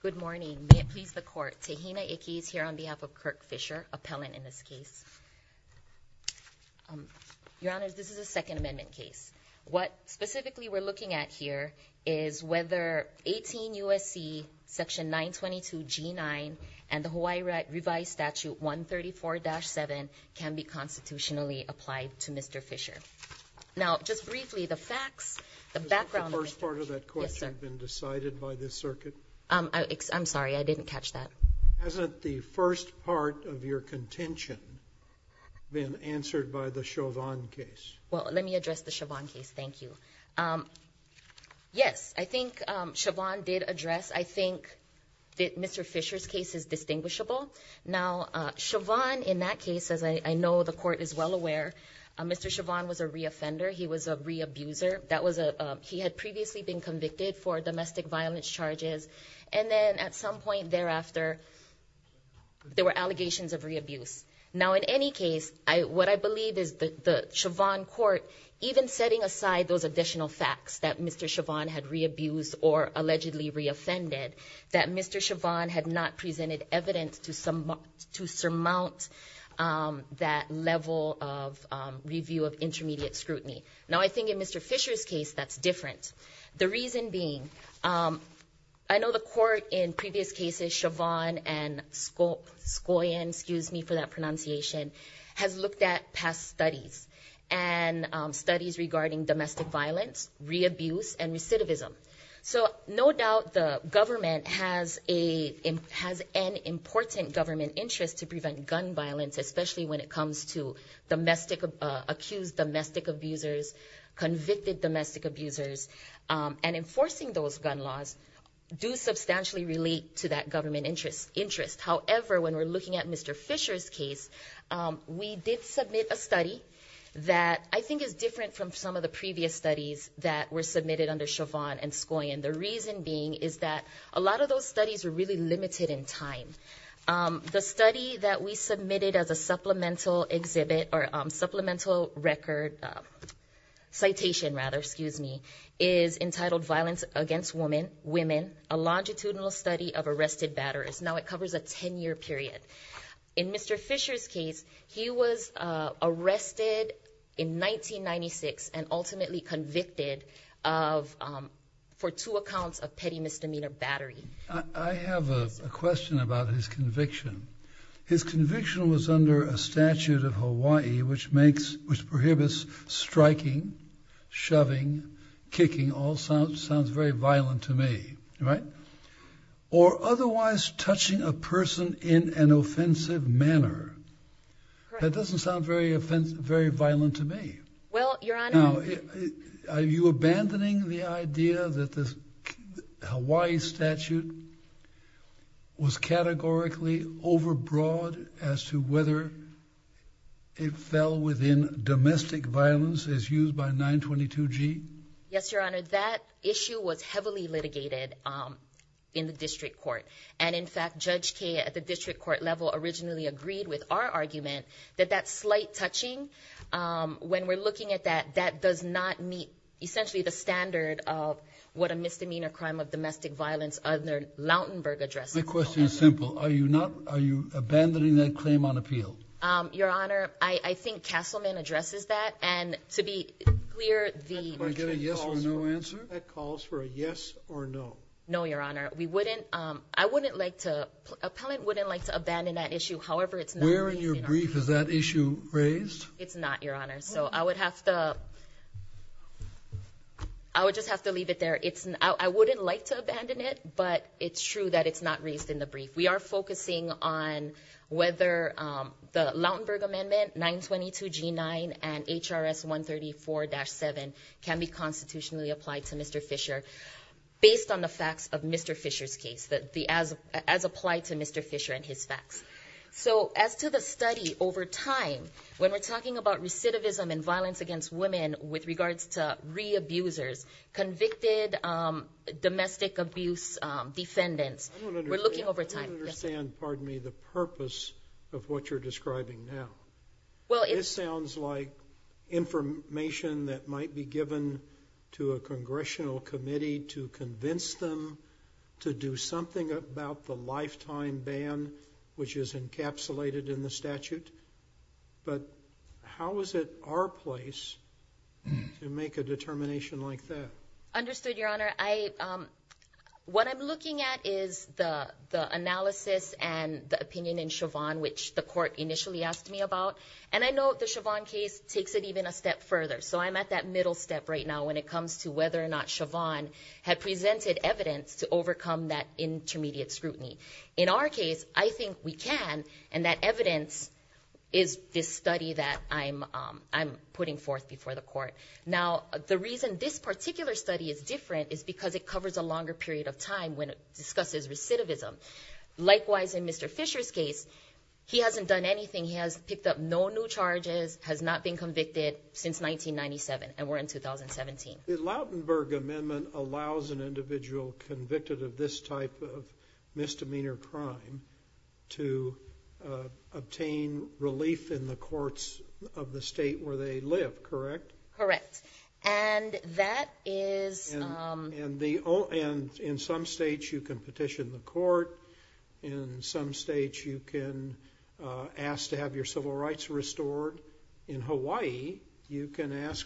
Good morning. May it please the Court, Tahina Ickes here on behalf of Kirk Fisher, appellant in this case. Your Honors, this is a Second Amendment case. What specifically we're looking at here is whether 18 U.S.C. section 922 G9 and the Hawaii Revised Statute 134-7 can be constitutionally applied to Mr. Fisher. Now, just briefly, the facts, the background of that court have been decided by this circuit? I'm sorry, I didn't catch that. Hasn't the first part of your contention been answered by the Chauvin case? Well, let me address the Chauvin case, thank you. Yes, I think Chauvin did address, I think that Mr. Fisher's case is distinguishable. Now, Chauvin in that case, as I know the Court is well aware, Mr. Fisher had previously been convicted for domestic violence charges, and then at some point thereafter, there were allegations of re-abuse. Now, in any case, what I believe is the Chauvin court, even setting aside those additional facts that Mr. Chauvin had re-abused or allegedly re-offended, that Mr. Chauvin had not presented evidence to surmount that level of review of intermediate scrutiny. Now, I think in Mr. Fisher's case, that's different. The reason being, I know the Court in previous cases, Chauvin and Skoyen, excuse me for that pronunciation, has looked at past studies, and studies regarding domestic violence, re-abuse, and recidivism. So, no doubt the government has an important government interest to prevent gun violence, especially when it comes to accused domestic abusers, convicted domestic abusers, and enforcing those gun laws do substantially relate to that government interest. However, when we're looking at Mr. Fisher's case, we did submit a study that I think is different from some of the previous studies that were submitted under Chauvin and Skoyen. The reason being is that a lot of those studies were really limited in time. The study that we submitted as a supplemental exhibit, or supplemental record, citation rather, excuse me, is entitled Violence Against Women, a Longitudinal Study of Arrested Batterers. Now, it covers a 10-year period. In Mr. Fisher's case, he was arrested in 1996 and ultimately convicted for two accounts of petty misdemeanor battery. I have a question about his conviction. His conviction was under a statute of Hawaii, which prohibits striking, shoving, kicking, all sounds very violent to me, right? Or otherwise touching a person in an offensive manner. That doesn't sound very violent to me. Well, Your Honor, I... Are you abandoning the idea that this Hawaii statute was categorically overbroad as to whether it fell within domestic violence as used by 922G? Yes, Your Honor. That issue was heavily litigated in the district court. And in fact, Judge Kea at the district court level originally agreed with our argument that that slight touching, when we're looking at that, that does not meet essentially the standard of what a misdemeanor crime of domestic violence under Lautenberg addresses. My question is simple. Are you abandoning that claim on appeal? Your Honor, I think Castleman addresses that. And to be clear, the... Can I get a yes or no answer? That calls for a yes or no. No, Your Honor. We wouldn't... I wouldn't like to... Appellant wouldn't like to abandon that issue. However, it's not... Where in your brief is that issue raised? It's not, Your Honor. So I would have to... I would just have to leave it there. It's... I wouldn't like to abandon it, but it's true that it's not raised in the brief. We are focusing on whether the Lautenberg Amendment 922G9 and HRS 134-7 can be constitutionally applied to Mr. Fisher based on the facts of Mr. Fisher's case, as applied to Mr. Fisher and his facts. So as to the study over time, when we're talking about recidivism and violence against women with regards to re-abusers, convicted domestic abuse defendants, we're I don't understand. I don't understand, pardon me, the purpose of what you're describing now. Well, it's... This sounds like information that might be given to a congressional committee to convince them to do something about the lifetime ban, which is encapsulated in the statute. But how is it our place to make a determination like that? Understood, Your Honor. I... What I'm looking at is the analysis and the opinion in Chauvin, which the court initially asked me about. And I know the Chauvin case takes it even a step further. So I'm at that middle step right now when it comes to whether or not Chauvin had presented evidence to overcome that intermediate scrutiny. In our case, I think we can, and that evidence is this study that I'm putting forth before the court. Now, the reason this particular study is different is because it covers a longer period of time when it discusses recidivism. Likewise, in Mr. Fisher's case, he hasn't done anything. He has picked up no new charges, has not been convicted since 1997, and we're in 2017. The Lautenberg Amendment allows an individual convicted of this type of misdemeanor crime to obtain relief in the courts of the state where they live, correct? Correct. And that is... And in some states, you can petition the court. In some states, you can ask to have your civil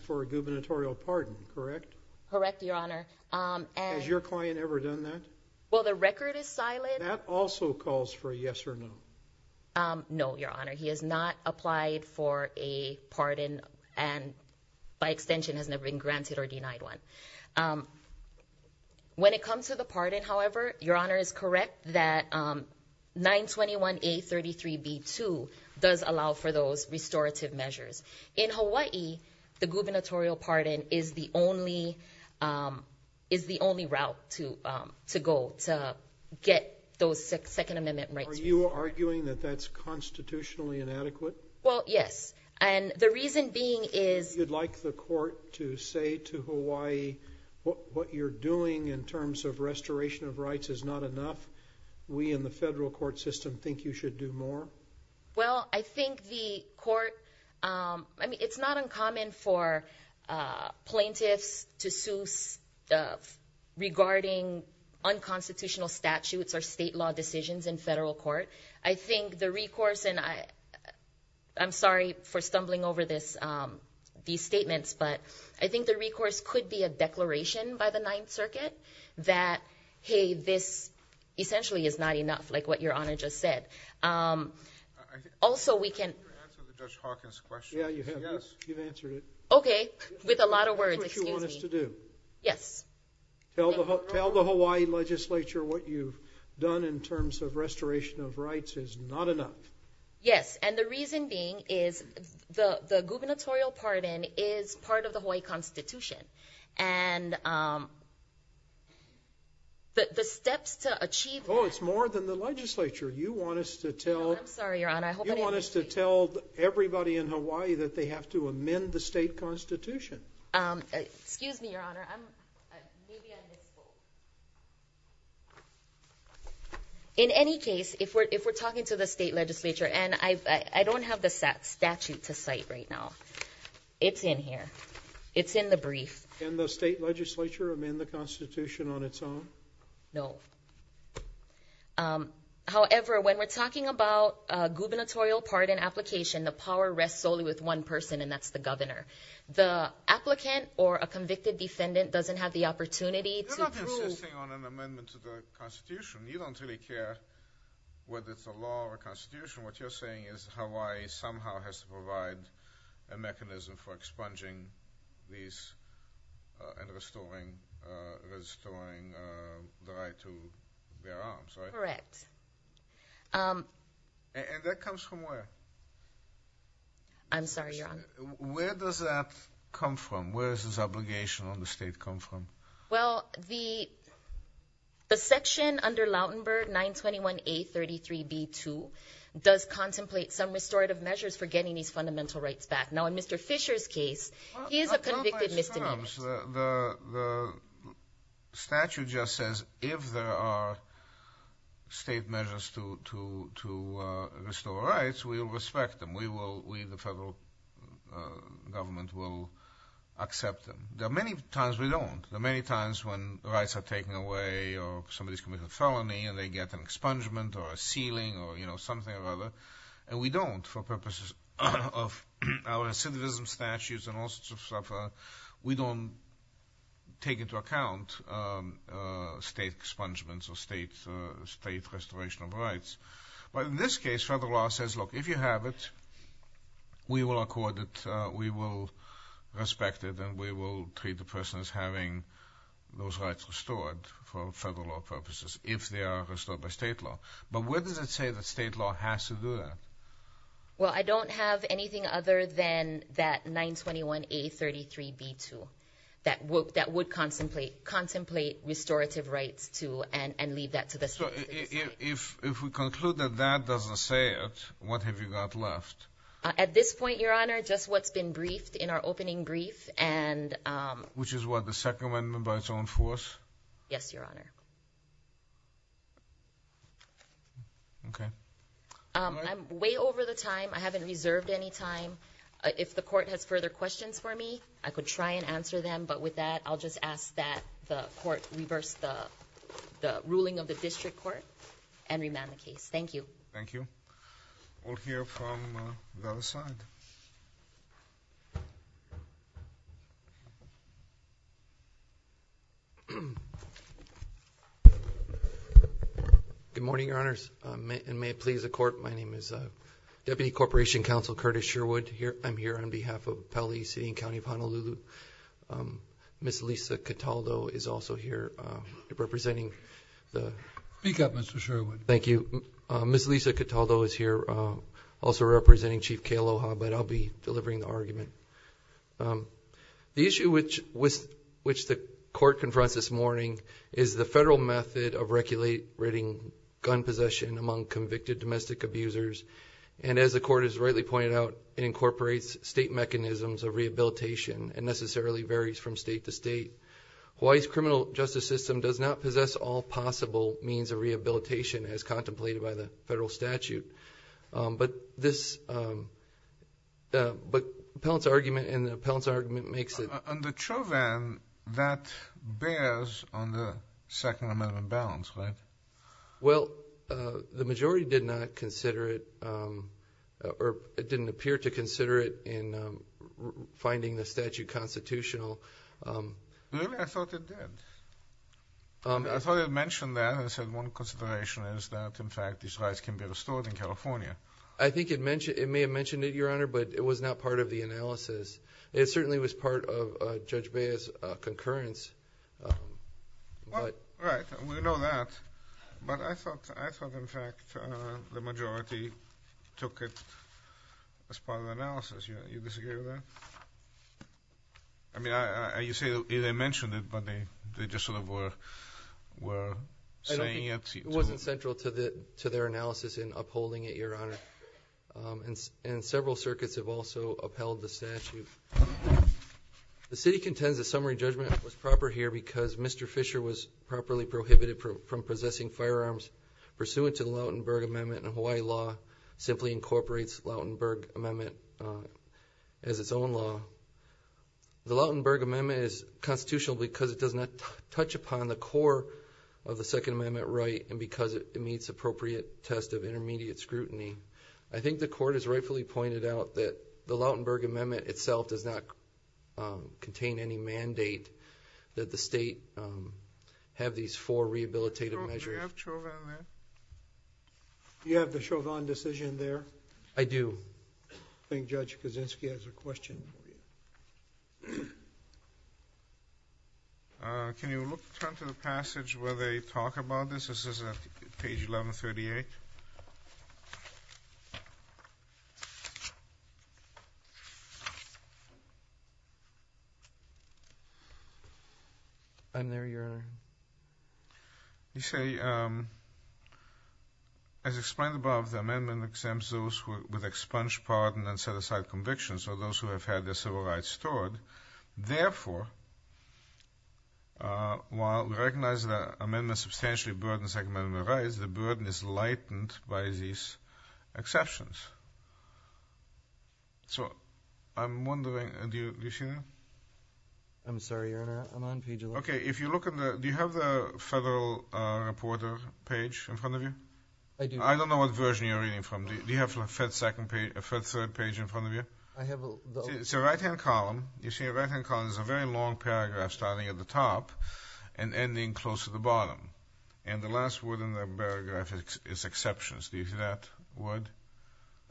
gubernatorial pardon, correct? Correct, Your Honor. Has your client ever done that? Well, the record is silent. That also calls for a yes or no. No, Your Honor. He has not applied for a pardon and, by extension, has never been granted or denied one. When it comes to the pardon, however, Your Honor is correct that 921A33B2 does allow for those restorative measures. In Hawaii, the gubernatorial pardon is the only route to go to get those Second Amendment rights. Are you arguing that that's constitutionally inadequate? Well, yes. And the reason being is... You'd like the court to say to Hawaii, what you're doing in terms of restoration of rights is not enough? We in the federal court system think you should do more? Well, I think the court... I mean, it's not uncommon for plaintiffs to sue regarding unconstitutional statutes or state law decisions in federal court. I think the recourse... I'm sorry for stumbling over these statements, but I think the recourse could be a declaration by the Also, we can... You answered the Dutch Hawkins question. Yeah, you have. You've answered it. Okay. With a lot of words. Excuse me. This is what you want us to do. Yes. Tell the Hawaii legislature what you've done in terms of restoration of rights is not enough. Yes. And the reason being is the gubernatorial pardon is part of the Hawaii Constitution. And the steps to achieve that... Oh, it's more than the legislature. You want us to tell... I'm sorry, Your Honor. I hope I didn't... You want us to tell everybody in Hawaii that they have to amend the state constitution. Excuse me, Your Honor. I'm... Maybe I missed both. In any case, if we're talking to the state legislature, and I don't have the statute to cite right now. It's in here. It's in the brief. Can the state legislature amend the constitution on its own? No. However, when we're talking about gubernatorial pardon application, the power rests solely with one person, and that's the governor. The applicant or a convicted defendant doesn't have the opportunity to prove... You're not insisting on an amendment to the constitution. You don't really care whether it's a law or a constitution. What you're saying is Hawaii somehow has to provide a mechanism for expunging these and restoring the right to bear arms, right? Correct. And that comes from where? I'm sorry, Your Honor. Where does that come from? Where does this obligation on the state come from? Well, the section under Lautenberg 921A-33B-2 does contemplate some restorative measures for getting these fundamental rights back. Now, in Mr. Fisher's case, he is a convicted misdemeanor. The statute just says if there are state measures to restore rights, we will respect them. We, the federal government, will accept them. There are many times we don't. There are many times when rights are taken away or somebody's committed a felony and they get an expungement or a sealing or something or other, and we don't, for purposes of our recidivism statutes and all sorts of stuff, we don't take into account state expungements or state restoration of rights. But in this case, federal law says, look, if you have it, we will accord it, we will respect it, and we will treat the person as having those rights restored for federal law purposes if they are restored by state law. But where does it say that state law has to do that? Well, I don't have anything other than that 921A-33B-2 that would contemplate restorative rights and leave that to the state. So if we conclude that that doesn't say it, what have you got left? At this point, Your Honor, just what's been briefed in our opening brief. Which is what, the Second Amendment by its own force? Yes, Your Honor. Okay. I'm way over the time. I haven't reserved any time. If the court has further questions for me, I could try and answer them. But with that, I'll just ask that the court reverse the ruling of the district court and remand the case. Thank you. Thank you. We'll hear from the other side. Good morning, Your Honors. And may it please the court, my name is Deputy Corporation Counsel Curtis Sherwood. I'm here on behalf of Pele City and County of Honolulu. Ms. Lisa Cataldo is also here representing the- Speak up, Mr. Sherwood. Thank you. Ms. Lisa Cataldo is here, also representing Chief Kealoha. But I'll be delivering the argument. The issue which the court confronts this morning is the federal method of regulating gun possession among convicted domestic abusers. And as the court has rightly pointed out, it incorporates state mechanisms of rehabilitation and necessarily varies from state to state. Hawaii's criminal justice system does not possess all possible means of rehabilitation as stated by the federal statute. But this- but Appellant's argument and the Appellant's argument makes it- On the Chauvin, that bears on the Second Amendment balance, right? Well, the majority did not consider it, or it didn't appear to consider it in finding the statute constitutional. Really? I thought it did. I thought it mentioned that and said one consideration is that, in fact, these rights can be restored in California. I think it mentioned- it may have mentioned it, Your Honor, but it was not part of the analysis. It certainly was part of Judge Bea's concurrence, but- Right, we know that. But I thought, in fact, the majority took it as part of the analysis. You disagree with that? I mean, you say they mentioned it, but they just sort of were saying it to- It wasn't central to their analysis in upholding it, Your Honor. And several circuits have also upheld the statute. The City contends the summary judgment was proper here because Mr. Fisher was properly prohibited from possessing firearms pursuant to the Lautenberg Amendment, and Hawaii law simply incorporates the The Lautenberg Amendment is constitutional because it does not touch upon the core of the Second Amendment right and because it meets appropriate test of intermediate scrutiny. I think the Court has rightfully pointed out that the Lautenberg Amendment itself does not contain any mandate that the state have these four rehabilitative measures. Do you have the Chauvin decision there? I do. I think Judge Kaczynski has a question. Can you turn to the passage where they talk about this? This is at page 1138. I'm there, Your Honor. You say, as explained above, the amendment exempts those with expunge, pardon, and set-aside convictions, or those who have had their civil rights stored. Therefore, while we recognize the amendment substantially burdens Second Amendment rights, the burden is lightened by these exceptions. Do you see that? I'm sorry, Your Honor. I'm on page 1138. Do you have the federal reporter page in front of you? I do. I don't know what version you're reading from. Do you have a fed third page in front of you? I have a... It's a right-hand column. You see a right-hand column. There's a very long paragraph starting at the top and ending close to the bottom. And the last word in the paragraph is exceptions. Do you see that word?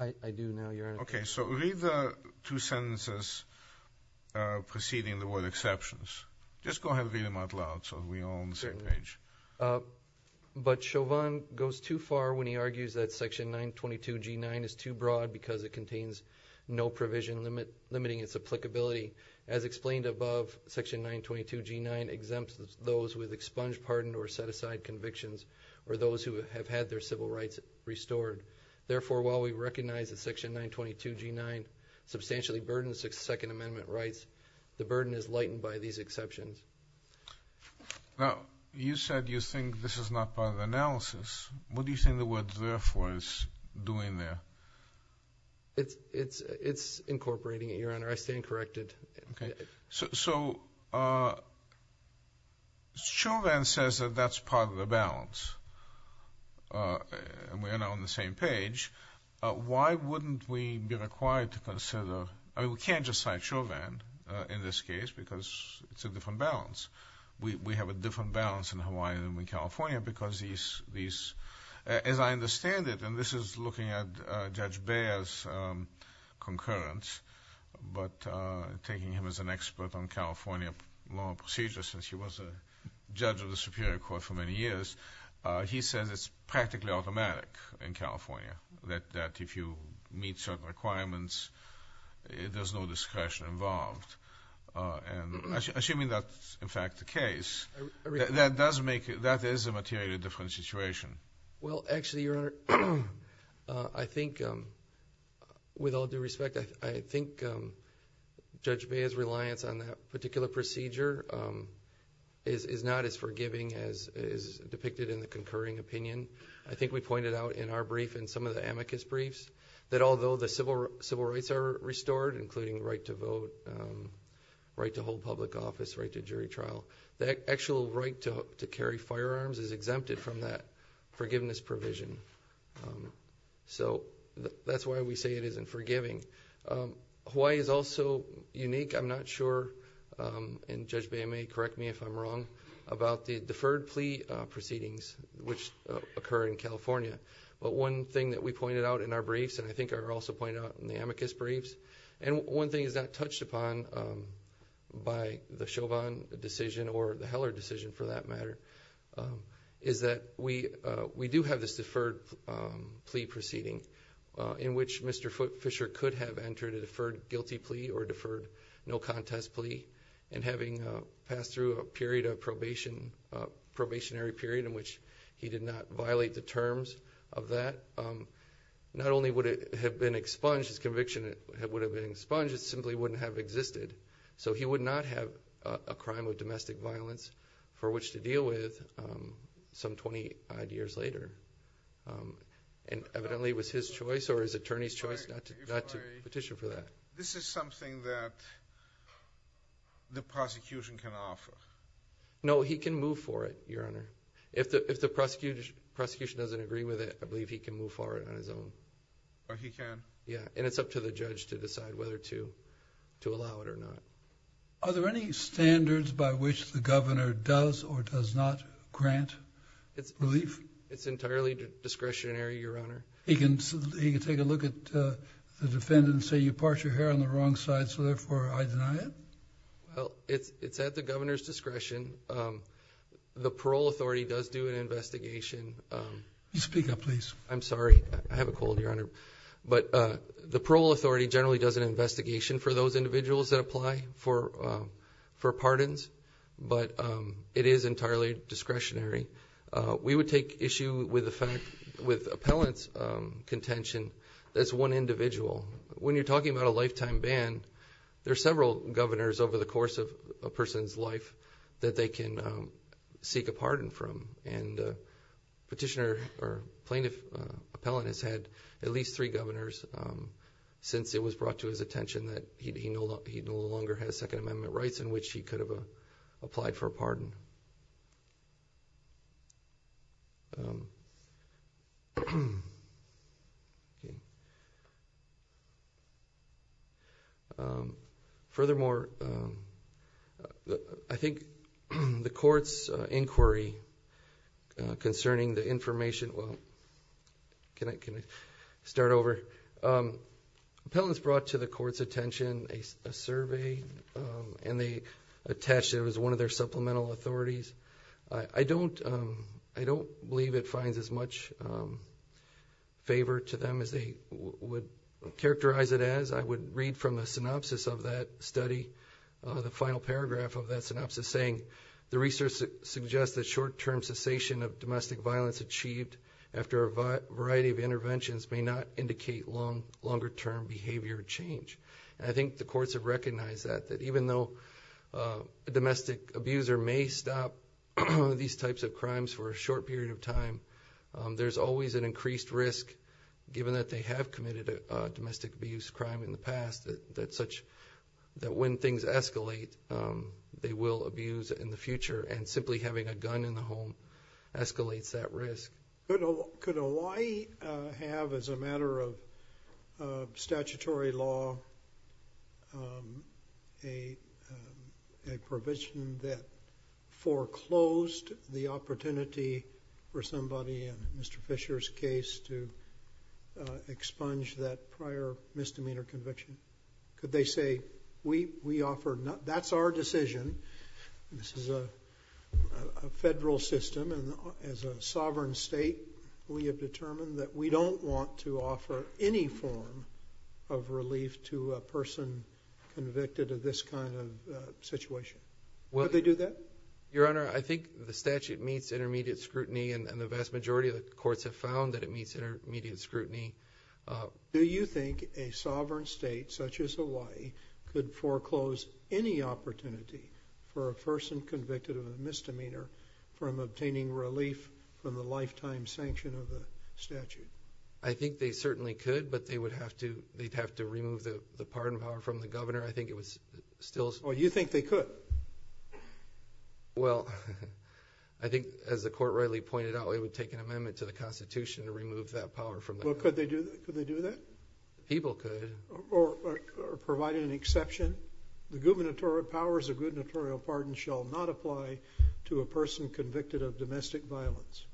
I do now, Your Honor. Okay. So read the two sentences preceding the word exceptions. Just go ahead and read them out loud so we're all on the same page. But Chauvin goes too far when he argues that Section 922G9 is too broad because it contains no provision limiting its applicability. As explained above, Section 922G9 exempts those with expunged, pardoned, or set-aside convictions, or those who have had their civil rights restored. Therefore, while we recognize that Section 922G9 substantially burdens Second Amendment rights, the burden is lightened by these exceptions. Now, you said you think this is not part of the analysis. What do you think the word therefore is doing there? It's incorporating it, Your Honor. I stand corrected. Okay. So Chauvin says that that's part of the balance, and we're now on the same page. Why wouldn't we be required to consider... I mean, we can't just cite Chauvin in this case because it's a different balance. We have a different balance in Hawaii than in California because these... As I understand it, and this is looking at Judge Beyer's concurrence, but taking him as an expert on California law and procedure since he was a judge of the Superior Court for many years, he says it's practically automatic in California that if you meet certain requirements, there's no discretion involved. Assuming that's, in fact, the case, that is a materially different situation. Well, actually, Your Honor, I think, with all due respect, I think Judge Beyer's reliance on that particular procedure is not as forgiving as is depicted in the concurring opinion. I think we pointed out in our brief and some of the amicus briefs that although the civil rights are restored, including right to vote, right to hold public office, right to jury trial, the actual right to carry firearms is exempted from that forgiveness provision. So that's why we say it isn't forgiving. Hawaii is also unique. I'm not sure, and Judge Beyer may correct me if I'm wrong, about the deferred plea proceedings which occur in California. But one thing that we pointed out in our briefs, and I think I also pointed out in the amicus briefs, and one thing that is not touched upon by the Chauvin decision or the Heller decision, for that matter, is that we do have this deferred plea proceeding in which Mr. Fisher could have entered a deferred guilty plea or deferred no contest plea and having passed through a period of probation, a probationary period in which he did not violate the terms of that. Not only would it have been expunged, his conviction would have been expunged, it simply wouldn't have existed. So he would not have a crime of domestic violence for which to deal with some 20-odd years later. And evidently it was his choice or his attorney's choice not to petition for that. This is something that the prosecution can offer. No, he can move for it, Your Honor. If the prosecution doesn't agree with it, I believe he can move for it on his own. Or he can. Yeah, and it's up to the judge to decide whether to allow it or not. Are there any standards by which the governor does or does not grant relief? It's entirely discretionary, Your Honor. He can take a look at the defendant and say, you part your hair on the wrong side, so therefore I deny it? Well, it's at the governor's discretion. The parole authority does do an investigation. Speak up, please. I'm sorry, I have a cold, Your Honor. But the parole authority generally does an investigation for those individuals that apply for pardons. But it is entirely discretionary. We would take issue with the fact, with appellant's contention, that it's one individual. When you're talking about a lifetime ban, there are several governors over the course of a person's life that they can seek a pardon from. Petitioner or plaintiff appellant has had at least three governors since it was brought to his attention that he no longer has Second Amendment rights in which he could have applied for a pardon. Furthermore, I think the court's inquiry concerning the information, well, can I start over? Appellants brought to the court's attention a survey and they attached it as one of their supplemental authorities. I don't believe it finds as much favor to them as they would characterize it as. I would read from a synopsis of that study, the final paragraph of that synopsis saying, the research suggests that short-term cessation of domestic violence achieved after a variety of interventions may not indicate longer-term behavior change. I think the courts have recognized that, even though a domestic abuser may stop these types of crimes for a short period of time, there's always an increased risk, given that they have committed a domestic abuse crime in the past, that when things escalate, they will abuse in the future and simply having a gun in the home escalates that risk. Could Hawaii have, as a matter of statutory law, a provision that foreclosed the opportunity for somebody in Mr. Fisher's case to expunge that prior misdemeanor conviction? Could they say, that's our decision, this is a federal system and as a sovereign state, we have determined that we don't want to offer any form of relief to a person convicted of this kind of situation? Would they do that? Your Honor, I think the statute meets intermediate scrutiny and the vast majority of the courts have found that it meets intermediate scrutiny. Do you think a sovereign state such as Hawaii could foreclose any opportunity for a person convicted of a misdemeanor from obtaining relief from the lifetime sanction of the statute? I think they certainly could, but they would have to remove the pardon power from the governor. I think it was still... Oh, you think they could? Well, I think as the court rightly pointed out, it would take an amendment to the Constitution to remove that power from the governor. Well, could they do that? People could. Or provide an exception? The gubernatorial powers of gubernatorial pardon shall not apply to a person convicted of domestic violence?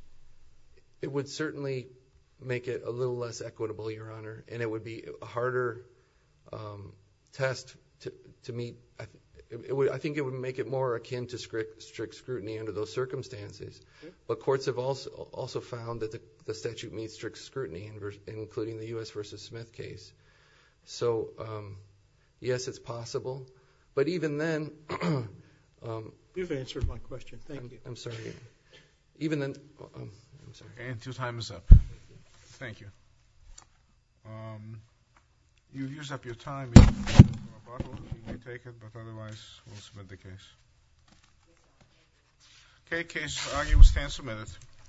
It would certainly make it a little less equitable, Your Honor, and it would be a harder test to meet. I think it would make it more akin to strict scrutiny under those circumstances. But courts have also found that the statute meets strict scrutiny including the U.S. v. Smith case. So, yes, it's possible. But even then... You've answered my question. Thank you. I'm sorry. And your time is up. Thank you. You've used up your time. You may take it, but otherwise we'll submit the case. Okay. Case for argument stands submitted.